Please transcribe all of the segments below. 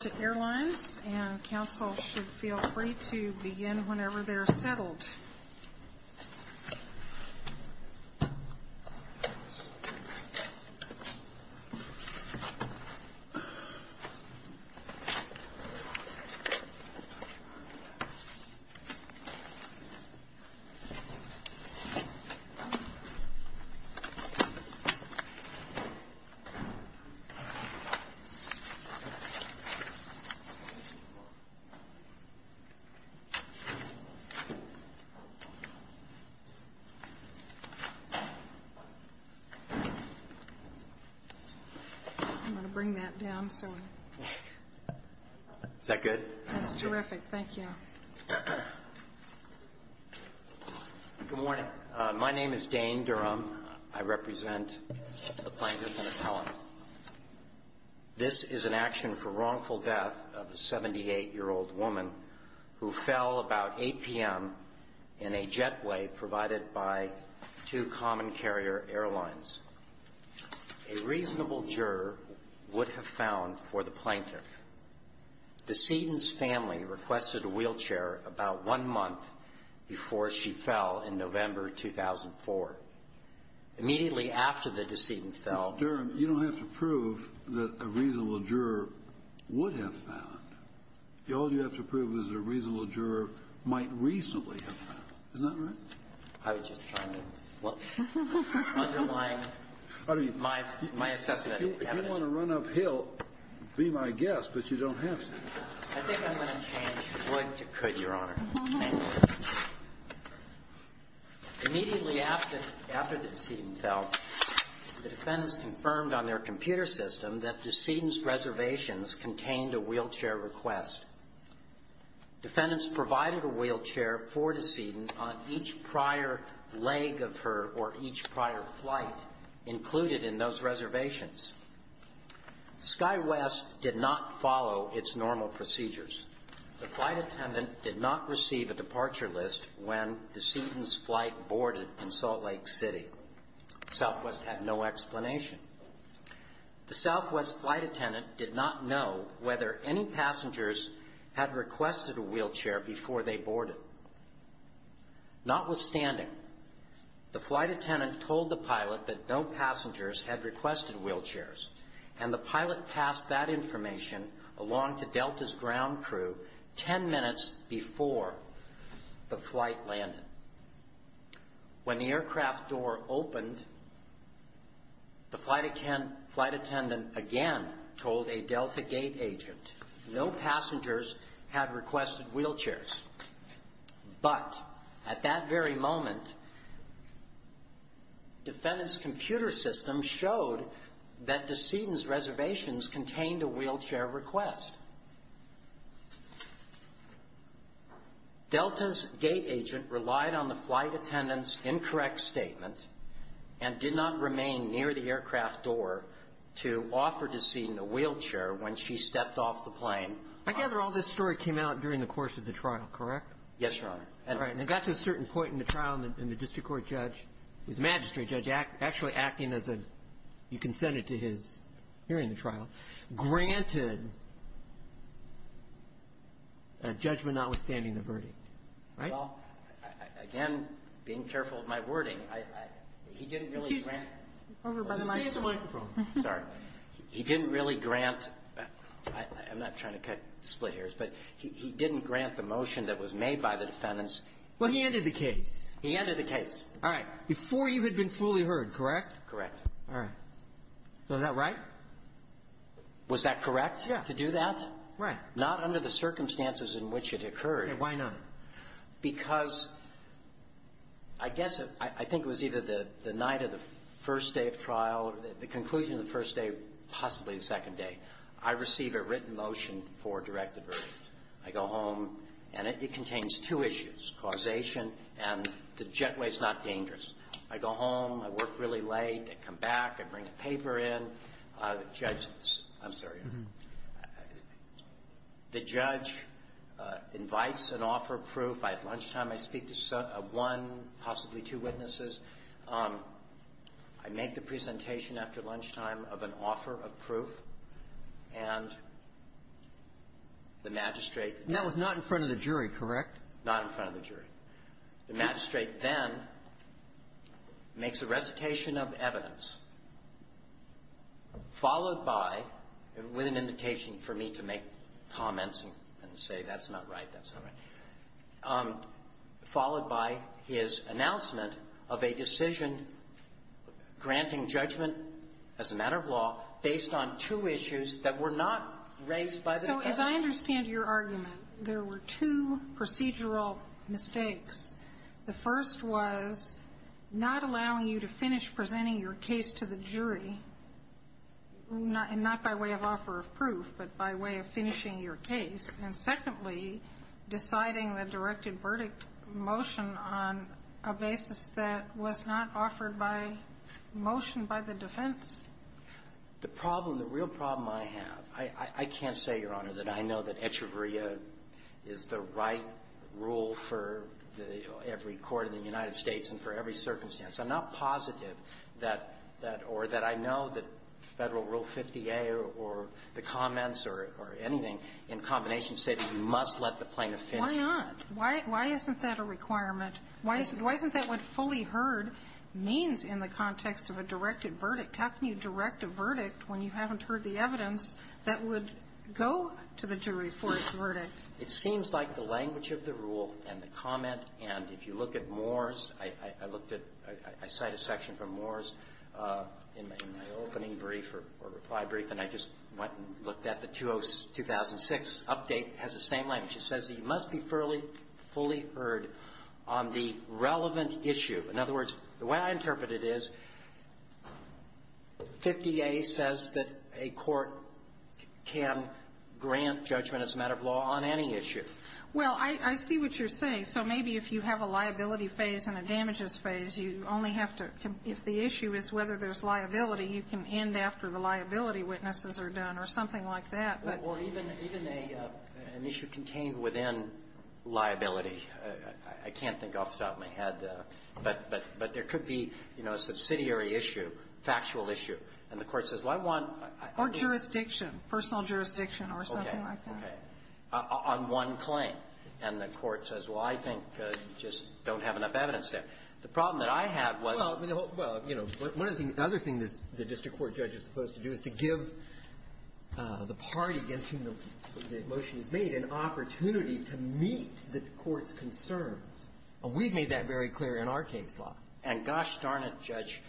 to airlines and council should feel free to begin whenever they're settled. I'm going to bring that down. Is that good? That's terrific. Thank you. Good morning. My name is Dane Durham. I represent the plaintiff in Appellant. This is an action for wrongful death of a 78-year-old woman who fell about 8 p.m. in a jetway provided by two common carrier airlines. A reasonable juror would have found for the plaintiff. The Seaton's family requested a wheelchair about one month before she fell in November 2004. Immediately after the decedent fell Mr. Durham, you don't have to prove that a reasonable juror would have found. All you have to prove is a reasonable juror might recently have found. Is that right? I was just trying to underline my assessment. If you want to run uphill, be my guest, but you don't have to. I think I'm going to change the would to could, Your Honor. Thank you. Immediately after the decedent fell, the defendants confirmed on their computer system that decedent's reservations contained a wheelchair request. Defendants provided a wheelchair for decedent on each prior leg of her or each prior flight included in those reservations. SkyWest did not follow its normal procedures. The flight attendant did not receive a departure list when the decedent's flight boarded in Salt Lake City. Southwest had no explanation. The Southwest flight attendant did not know whether any passengers had requested a wheelchair before they boarded. Notwithstanding, the flight attendant told the pilot that no passengers had requested wheelchairs, and the pilot passed that information along to Delta's ground crew ten minutes before the flight landed. When the aircraft door opened, the flight attendant again told a Delta gate agent no passengers had requested wheelchairs. But at that very moment, defendant's computer system showed that decedent's reservations contained a wheelchair request. Delta's gate agent relied on the flight attendant's incorrect statement and did not remain near the aircraft door to offer decedent a wheelchair when she stepped off the plane. I gather all this story came out during the course of the trial, correct? Yes, Your Honor. All right. And it got to a certain point in the trial, and the district court judge, who's a magistrate judge, actually acting as a, you can send it to his hearing the trial, granted a judgment notwithstanding the verdict, right? Well, again, being careful of my wording, he didn't really grant the motion that was made by the defendant's ---- Well, he ended the case. He ended the case. All right. Before you had been fully heard, correct? Correct. All right. Was that right? Was that correct to do that? Right. Not under the circumstances in which it occurred. Why not? Because I guess I think it was either the night of the first day of trial, the conclusion of the first day, possibly the second day, I receive a written motion for a directed verdict. I go home, and it contains two issues, causation and the jetway's not dangerous. I go home, I work really late, I come back, I bring a paper in, the judge ---- I'm sorry. The judge invites an offer of proof. I have lunchtime. I speak to one, possibly two witnesses. I make the presentation after lunchtime of an offer of proof. And the magistrate ---- That was not in front of the jury, correct? Not in front of the jury. The magistrate then makes a recitation of evidence, followed by, with an invitation for me to make comments and say that's not right, that's not right, followed by his announcement of a decision granting judgment as a matter of law based on two issues that were not raised by the defendant. So as I understand your argument, there were two procedural mistakes. The first was not allowing you to finish presenting your case to the jury, not by way of offer of proof, but by way of finishing your case, and secondly, deciding the directed verdict motion on a basis that was not offered by motion by the defense. The problem, the real problem I have, I can't say, Your Honor, that I know that etcheveria is the right rule for every court in the United States and for every circumstance. I'm not positive that or that I know that Federal Rule 50A or the comments or anything in combination say that you must let the plaintiff finish. Why not? Why isn't that a requirement? Why isn't that what fully heard means in the context of a directed verdict? How can you direct a verdict when you haven't heard the evidence that would go to the jury for its verdict? It seems like the language of the rule and the comment, and if you look at Moore's – I looked at – I cite a section from Moore's in my opening brief or reply brief, and I just went and looked at the 2006 update. It has the same language. It says you must be fully heard on the relevant issue. In other words, the way I interpret it is 50A says that a court can grant judgment as a matter of law on any issue. Well, I see what you're saying. So maybe if you have a liability phase and a damages phase, you only have to – if the issue is whether there's liability, you can end after the liability witnesses are done or something like that. Well, even an issue contained within liability, I can't think off the top of my head. But there could be, you know, a subsidiary issue, factual issue. And the Court says, well, I want – Or jurisdiction, personal jurisdiction or something like that. Okay. On one claim. And the Court says, well, I think you just don't have enough evidence there. The problem that I have was – Well, I mean, the whole – well, you know, one of the other things the district court judge is supposed to do is to give the party against whom the motion is made an opportunity to meet the court's concerns. And we've made that very clear in our case law. And gosh darn it, Judge,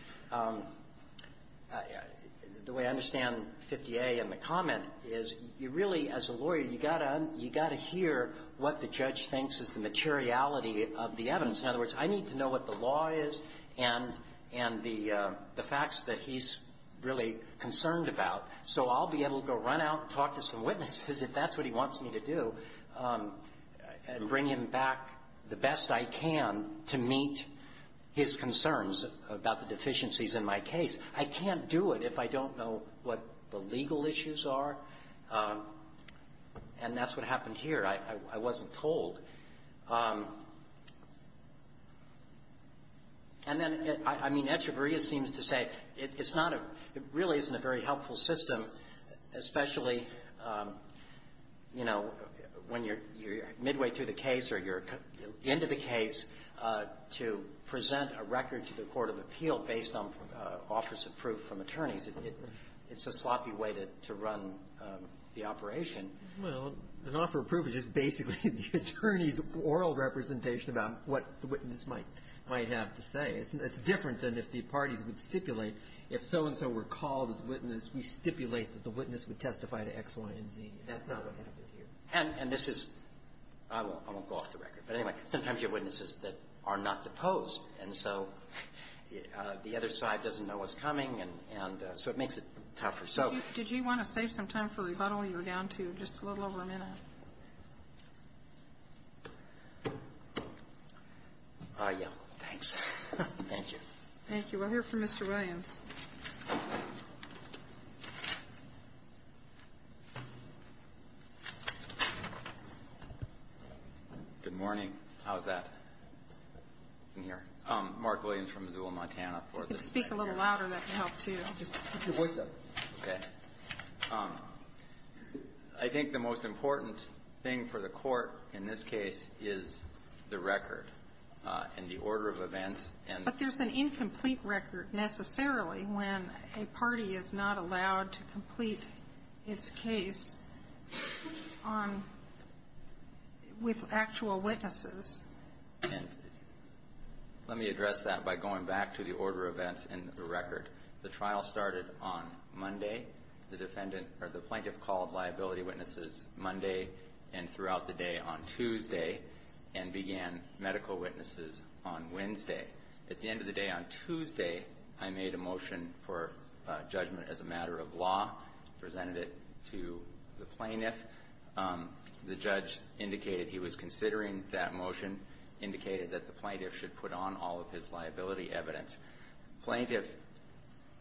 the way I understand 50A and the comment is, you really, as a lawyer, you got to – you got to hear what the judge thinks is the materiality of the evidence. In other words, I need to know what the law is and the facts that he's really concerned about. So I'll be able to go run out and talk to some witnesses, if that's what he wants me to do, and bring him back the best I can to meet his concerns about the deficiencies in my case. I can't do it if I don't know what the legal issues are. And that's what happened here. I wasn't told. And then, I mean, Echevarria seems to say it's not a – it really isn't a very helpful system, especially, you know, when you're midway through the case or you're into the case, to present a record to the court of appeal based on offers of proof from attorneys. It's a sloppy way to run the operation. Well, an offer of proof is just basically the attorney's oral representation about what the witness might have to say. It's different than if the parties would stipulate, if so-and-so were called as witness, we stipulate that the witness would testify to X, Y, and Z. That's not what happened here. And this is – I won't go off the record. But, anyway, sometimes you have witnesses that are not deposed, and so the other side doesn't know what's coming, and so it makes it tougher. So – Did you want to save some time for rebuttal? You were down to just a little over a minute. Yeah. Thanks. Thank you. Thank you. We'll hear from Mr. Williams. Good morning. How's that in here? Mark Williams from Missoula, Montana, for the record. If you could speak a little louder, that would help, too. I'll just keep your voice up. Okay. I think the most important thing for the court in this case is the record and the order of events. But there's an incomplete record, necessarily, when a party is not allowed to complete its case on – with actual witnesses. And let me address that by going back to the order of events and the record. The trial started on Monday. The defendant – or the plaintiff called liability witnesses Monday and throughout the day on Tuesday and began medical witnesses on Wednesday. At the end of the day on Tuesday, I made a motion for judgment as a matter of law, presented it to the plaintiff. The judge indicated he was considering that motion, indicated that the plaintiff should put on all of his liability evidence. Plaintiff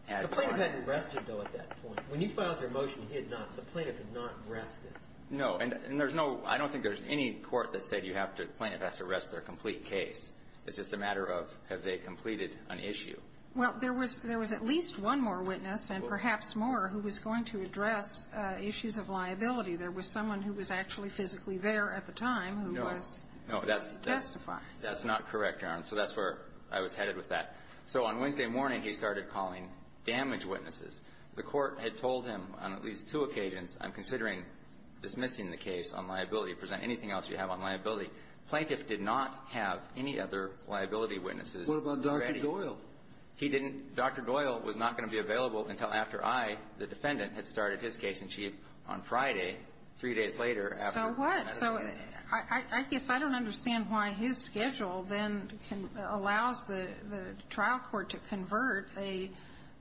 had – The plaintiff hadn't rested, though, at that point. When you filed your motion, he had not – the plaintiff had not rested. No. And there's no – I don't think there's any court that said you have to – the plaintiff has to rest their complete case. It's just a matter of have they completed an issue. Well, there was – there was at least one more witness and perhaps more who was going to address issues of liability. There was someone who was actually physically there at the time who was testifying. No. No. That's not correct, Your Honor. So that's where I was headed with that. So on Wednesday morning, he started calling damage witnesses. The court had told him on at least two occasions, I'm considering dismissing the case on liability. Present anything else you have on liability. Plaintiff did not have any other liability witnesses. What about Dr. Doyle? He didn't – Dr. Doyle was not going to be available until after I, the defendant, had started his case in chief on Friday, three days later, after – So what? So I guess I don't understand why his schedule then can – allows the trial court to convert a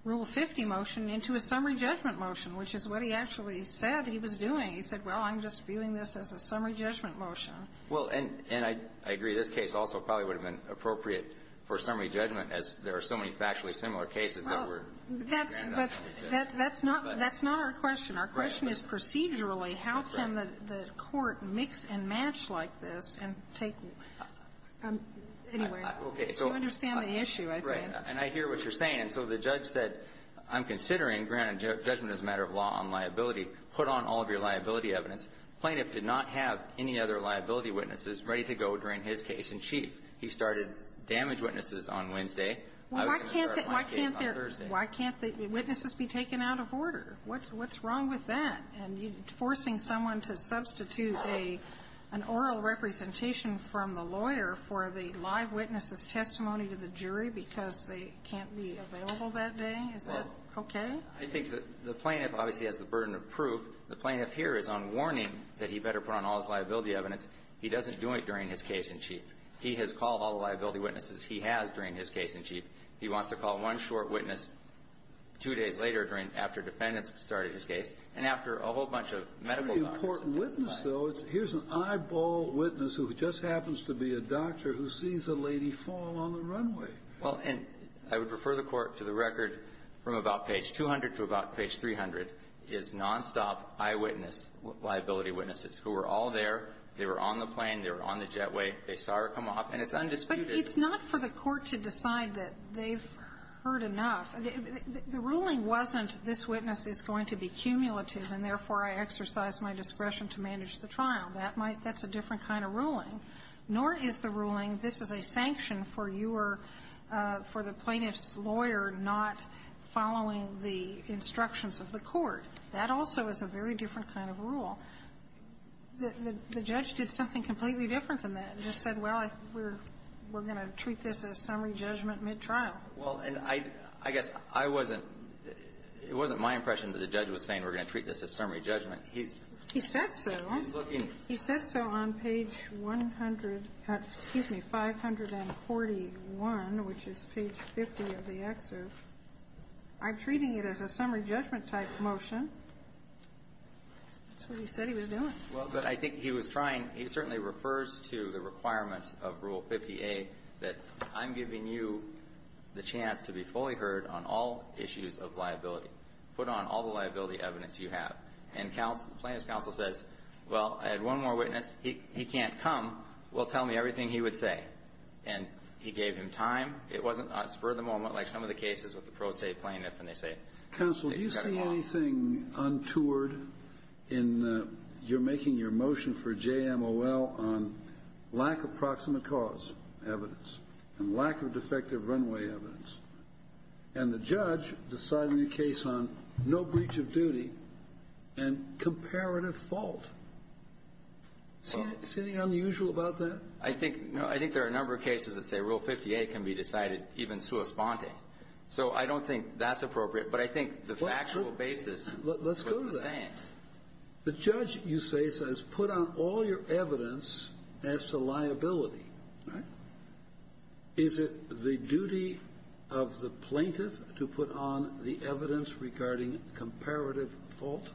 Rule 50 motion into a summary judgment motion, which is what he actually said he was doing. He said, well, I'm just viewing this as a summary judgment motion. Well, and – and I agree. This case also probably would have been appropriate for summary judgment as there are so many factually similar cases that were – Well, that's – but that's not – that's not our question. Our question is procedurally how can the court mix and match like this and take – anyway. Okay. So you understand the issue, I think. Yeah. And I hear what you're saying. And so the judge said, I'm considering, granted judgment is a matter of law on liability, put on all of your liability evidence. Plaintiff did not have any other liability witnesses ready to go during his case in chief. He started damage witnesses on Wednesday. I was going to start my case on Thursday. Well, why can't – why can't there – why can't the witnesses be taken out of order? What's – what's wrong with that? And you're forcing someone to substitute a – an oral representation from the lawyer for the live witness's testimony to the jury because they can't be available that day? Is that okay? Well, I think that the plaintiff obviously has the burden of proof. The plaintiff here is on warning that he better put on all his liability evidence. He doesn't do it during his case in chief. He has called all the liability witnesses he has during his case in chief. He wants to call one short witness two days later during – after defendants started his case and after a whole bunch of medical doctors have testified. Here's an eyeball witness who just happens to be a doctor who sees a lady fall on the runway. Well, and I would refer the Court to the record from about page 200 to about page 300 is nonstop eyewitness liability witnesses who were all there. They were on the plane. They were on the jetway. They saw her come off. And it's undisputed. But it's not for the Court to decide that they've heard enough. The ruling wasn't this witness is going to be cumulative and, therefore, I exercise my discretion to manage the trial. That might – that's a different kind of ruling. Nor is the ruling this is a sanction for your – for the plaintiff's lawyer not following the instructions of the Court. That also is a very different kind of rule. The judge did something completely different than that and just said, well, we're going to treat this as summary judgment mid-trial. Well, and I guess I wasn't – it wasn't my impression that the judge was saying we're going to treat this as summary judgment. He's looking – He said so. He said so on page 100 – excuse me, 541, which is page 50 of the excerpt. I'm treating it as a summary judgment type motion. That's what he said he was doing. Well, but I think he was trying – he certainly refers to the requirements of Rule 50A that I'm giving you the chance to be fully heard on all issues of liability, put on all the liability evidence you have. And plaintiff's counsel says, well, I had one more witness. He can't come. Well, tell me everything he would say. And he gave him time. It wasn't spur-of-the-moment like some of the cases with the pro se plaintiff and they say – Counsel, do you see anything untoward in your making your motion for JMOL on lack of proximate cause evidence and lack of defective runway evidence? And the judge deciding the case on no breach of duty and comparative fault. See anything unusual about that? I think – I think there are a number of cases that say Rule 50A can be decided even sui sponte. So I don't think that's appropriate. But I think the factual basis is the same. Let's go to that. The judge, you say, says put on all your evidence as to liability. Right? Is it the duty of the plaintiff to put on the evidence regarding comparative fault?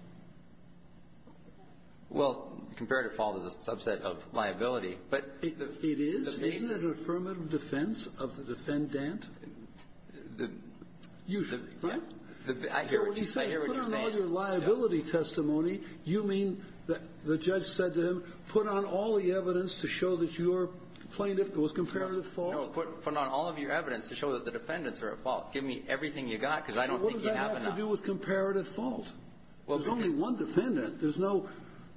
Well, comparative fault is a subset of liability. But the basis – It is. Isn't it an affirmative defense of the defendant? The – Usually. I hear what you're saying. I hear what you're saying. So when you say put on all your liability testimony, you mean that the judge said put on all the evidence to show that your plaintiff was comparative fault? No. Put on all of your evidence to show that the defendants are at fault. Give me everything you got, because I don't think you have enough. What does that have to do with comparative fault? Well, because – There's only one defendant. There's no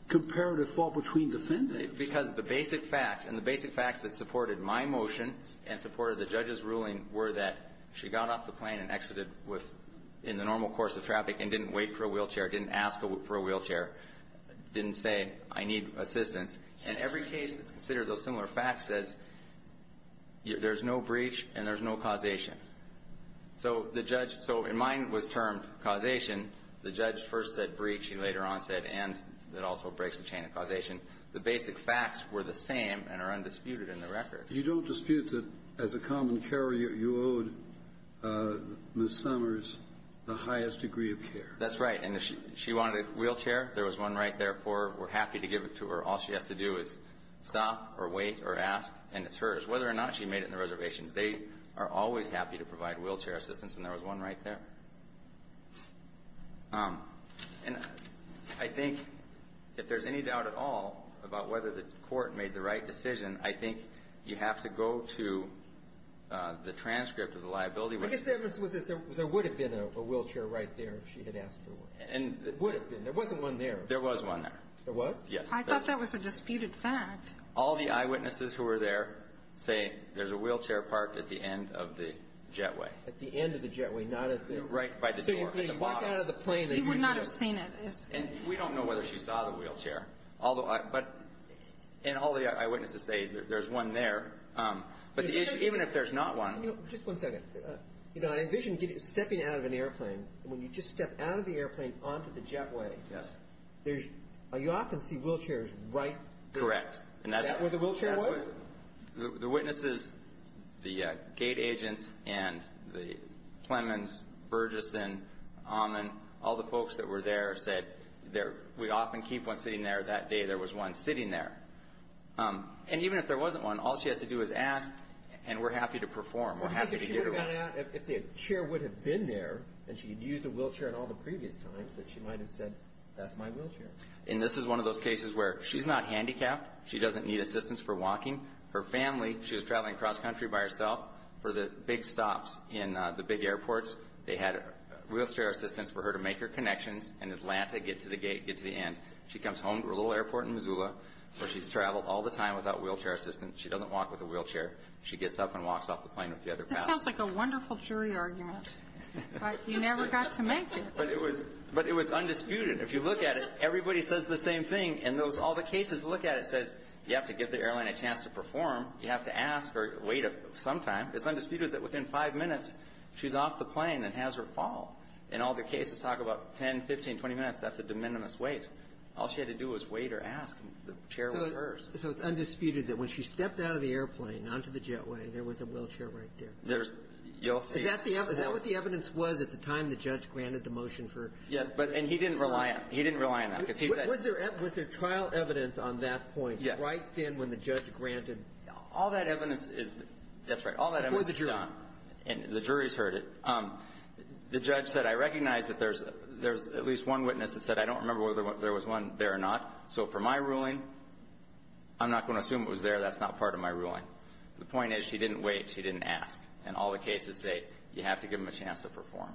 comparative fault between defendants. Because the basic facts and the basic facts that supported my motion and supported the judge's ruling were that she got off the plane and exited with – in the normal course of traffic and didn't wait for a wheelchair, didn't ask for a wheelchair, didn't say, I need assistance. And every case that's considered those similar facts says there's no breach and there's no causation. So the judge – so in mine was termed causation. The judge first said breach. He later on said and that also breaks the chain of causation. The basic facts were the same and are undisputed in the record. But you don't dispute that, as a common carrier, you owed Ms. Summers the highest degree of care. That's right. And if she wanted a wheelchair, there was one right there for her. We're happy to give it to her. All she has to do is stop or wait or ask, and it's hers. Whether or not she made it in the reservations, they are always happy to provide wheelchair assistance, and there was one right there. And I think if there's any doubt at all about whether the Court made the right decision, I think you have to go to the transcript of the liability report. I guess the evidence was that there would have been a wheelchair right there if she had asked for one. It would have been. There wasn't one there. There was one there. There was? Yes. I thought that was a disputed fact. All the eyewitnesses who were there say there's a wheelchair parked at the end of the jetway. At the end of the jetway, not at the – Right by the door, at the bottom. So you're getting back out of the plane that you needed. He would not have seen it. And we don't know whether she saw the wheelchair. And all the eyewitnesses say there's one there. But the issue – even if there's not one – Just one second. I envision stepping out of an airplane, and when you just step out of the airplane onto the jetway, you often see wheelchairs right there. Correct. Is that where the wheelchair was? The witnesses, the gate agents and the Clemens, Burgess, and Ahman, all the folks that were there, said we often keep one sitting there. That day, there was one sitting there. And even if there wasn't one, all she has to do is ask, and we're happy to perform. We're happy to get her out. Would you think if she would have gone out, if the chair would have been there and she had used a wheelchair in all the previous times, that she might have said, that's my wheelchair? And this is one of those cases where she's not handicapped. She doesn't need assistance for walking. Her family – she was traveling cross-country by herself. For the big stops in the big airports, they had wheelchair assistance for her to make her connections in Atlanta, get to the gate, get to the end. She comes home to her little airport in Missoula, where she's traveled all the time without wheelchair assistance. She doesn't walk with a wheelchair. She gets up and walks off the plane with the other passengers. This sounds like a wonderful jury argument, but you never got to make it. But it was – but it was undisputed. If you look at it, everybody says the same thing. In those – all the cases, look at it. It says you have to give the airline a chance to perform. You have to ask or wait some time. It's undisputed that within five minutes, she's off the plane and has her fall. And all the cases talk about 10, 15, 20 minutes. That's a de minimis wait. All she had to do was wait or ask, and the chair was hers. So it's undisputed that when she stepped out of the airplane onto the jetway, there was a wheelchair right there. There's – you'll see – Is that the – is that what the evidence was at the time the judge granted the motion for – Yes, but – and he didn't rely on – he didn't rely on that because he said – Was there – was there trial evidence on that point right then when the judge granted – All that evidence is – that's right. All that evidence is gone. And the jury's heard it. The judge said, I recognize that there's at least one witness that said, I don't remember whether there was one there or not. So for my ruling, I'm not going to assume it was there. That's not part of my ruling. The point is she didn't wait. She didn't ask. And all the cases say you have to give them a chance to perform.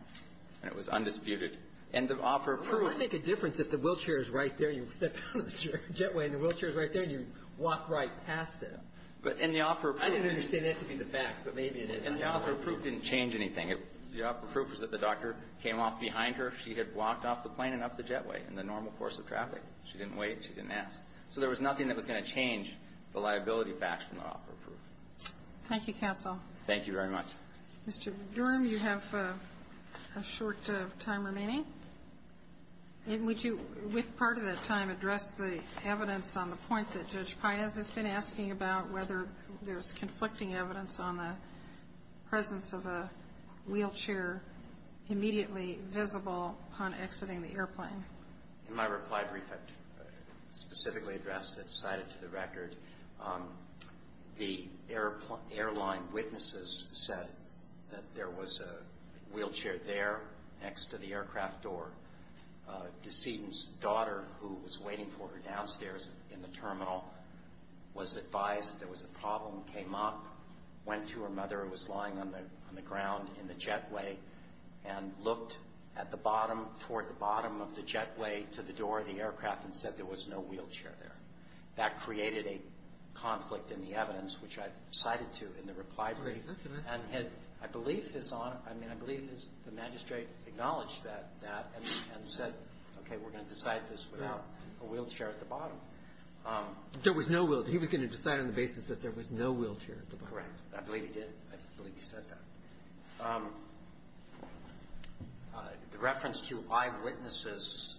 And it was undisputed. And the offer of proof – Well, it would make a difference if the wheelchair is right there and you step out of the jetway and the wheelchair is right there and you walk right past it. But in the offer of proof – I didn't understand that to be the facts, but maybe it is. And the offer of proof didn't change anything. The offer of proof was that the doctor came off behind her. She had walked off the plane and up the jetway in the normal course of traffic. She didn't wait. She didn't ask. So there was nothing that was going to change the liability facts from the offer of proof. Thank you, counsel. Thank you very much. Mr. Durham, you have a short time remaining. And would you, with part of that time, address the evidence on the point that Judge presence of a wheelchair immediately visible upon exiting the airplane? In my reply brief, I specifically addressed it, cited it to the record. The airline witnesses said that there was a wheelchair there next to the aircraft door. Decedent's daughter, who was waiting for her downstairs in the terminal, was advised that there was a problem, came up, went to her mother, who was lying on the ground in the jetway, and looked at the bottom, toward the bottom of the jetway to the door of the aircraft and said there was no wheelchair there. That created a conflict in the evidence, which I cited to in the reply brief. And had, I believe, His Honor – I mean, I believe the magistrate acknowledged that and said, okay, we're going to decide this without a wheelchair at the bottom. There was no wheelchair. That's incorrect. I believe he did. I believe he said that. The reference to eyewitnesses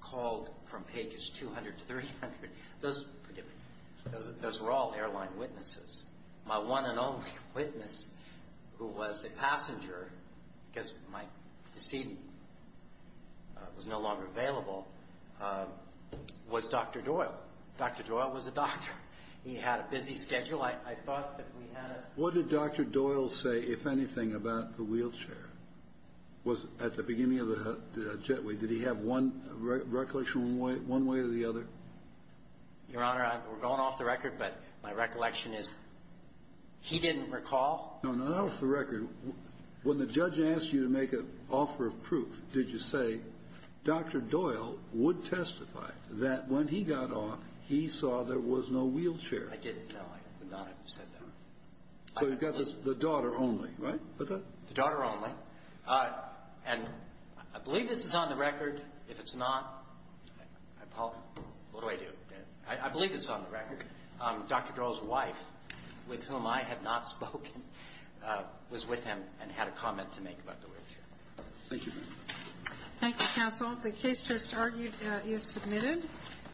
called from pages 200 to 300, those were all airline witnesses. My one and only witness, who was a passenger, because my decedent was no longer available, was Dr. Doyle. Dr. Doyle was a doctor. He had a busy schedule. I thought that we had a – What did Dr. Doyle say, if anything, about the wheelchair? Was – at the beginning of the jetway, did he have one recollection one way or the other? Your Honor, we're going off the record, but my recollection is he didn't recall. No, not off the record. When the judge asked you to make an offer of proof, did you say, Dr. Doyle would testify that when he got off, he saw there was no wheelchair? I didn't, no. I would not have said that. So you've got the daughter only, right? The daughter only. And I believe this is on the record. If it's not, I apologize. What do I do? I believe it's on the record. Dr. Doyle's wife, with whom I have not spoken, was with him and had a comment to make about the wheelchair. Thank you, Your Honor. Thank you, counsel. The case just argued is submitted.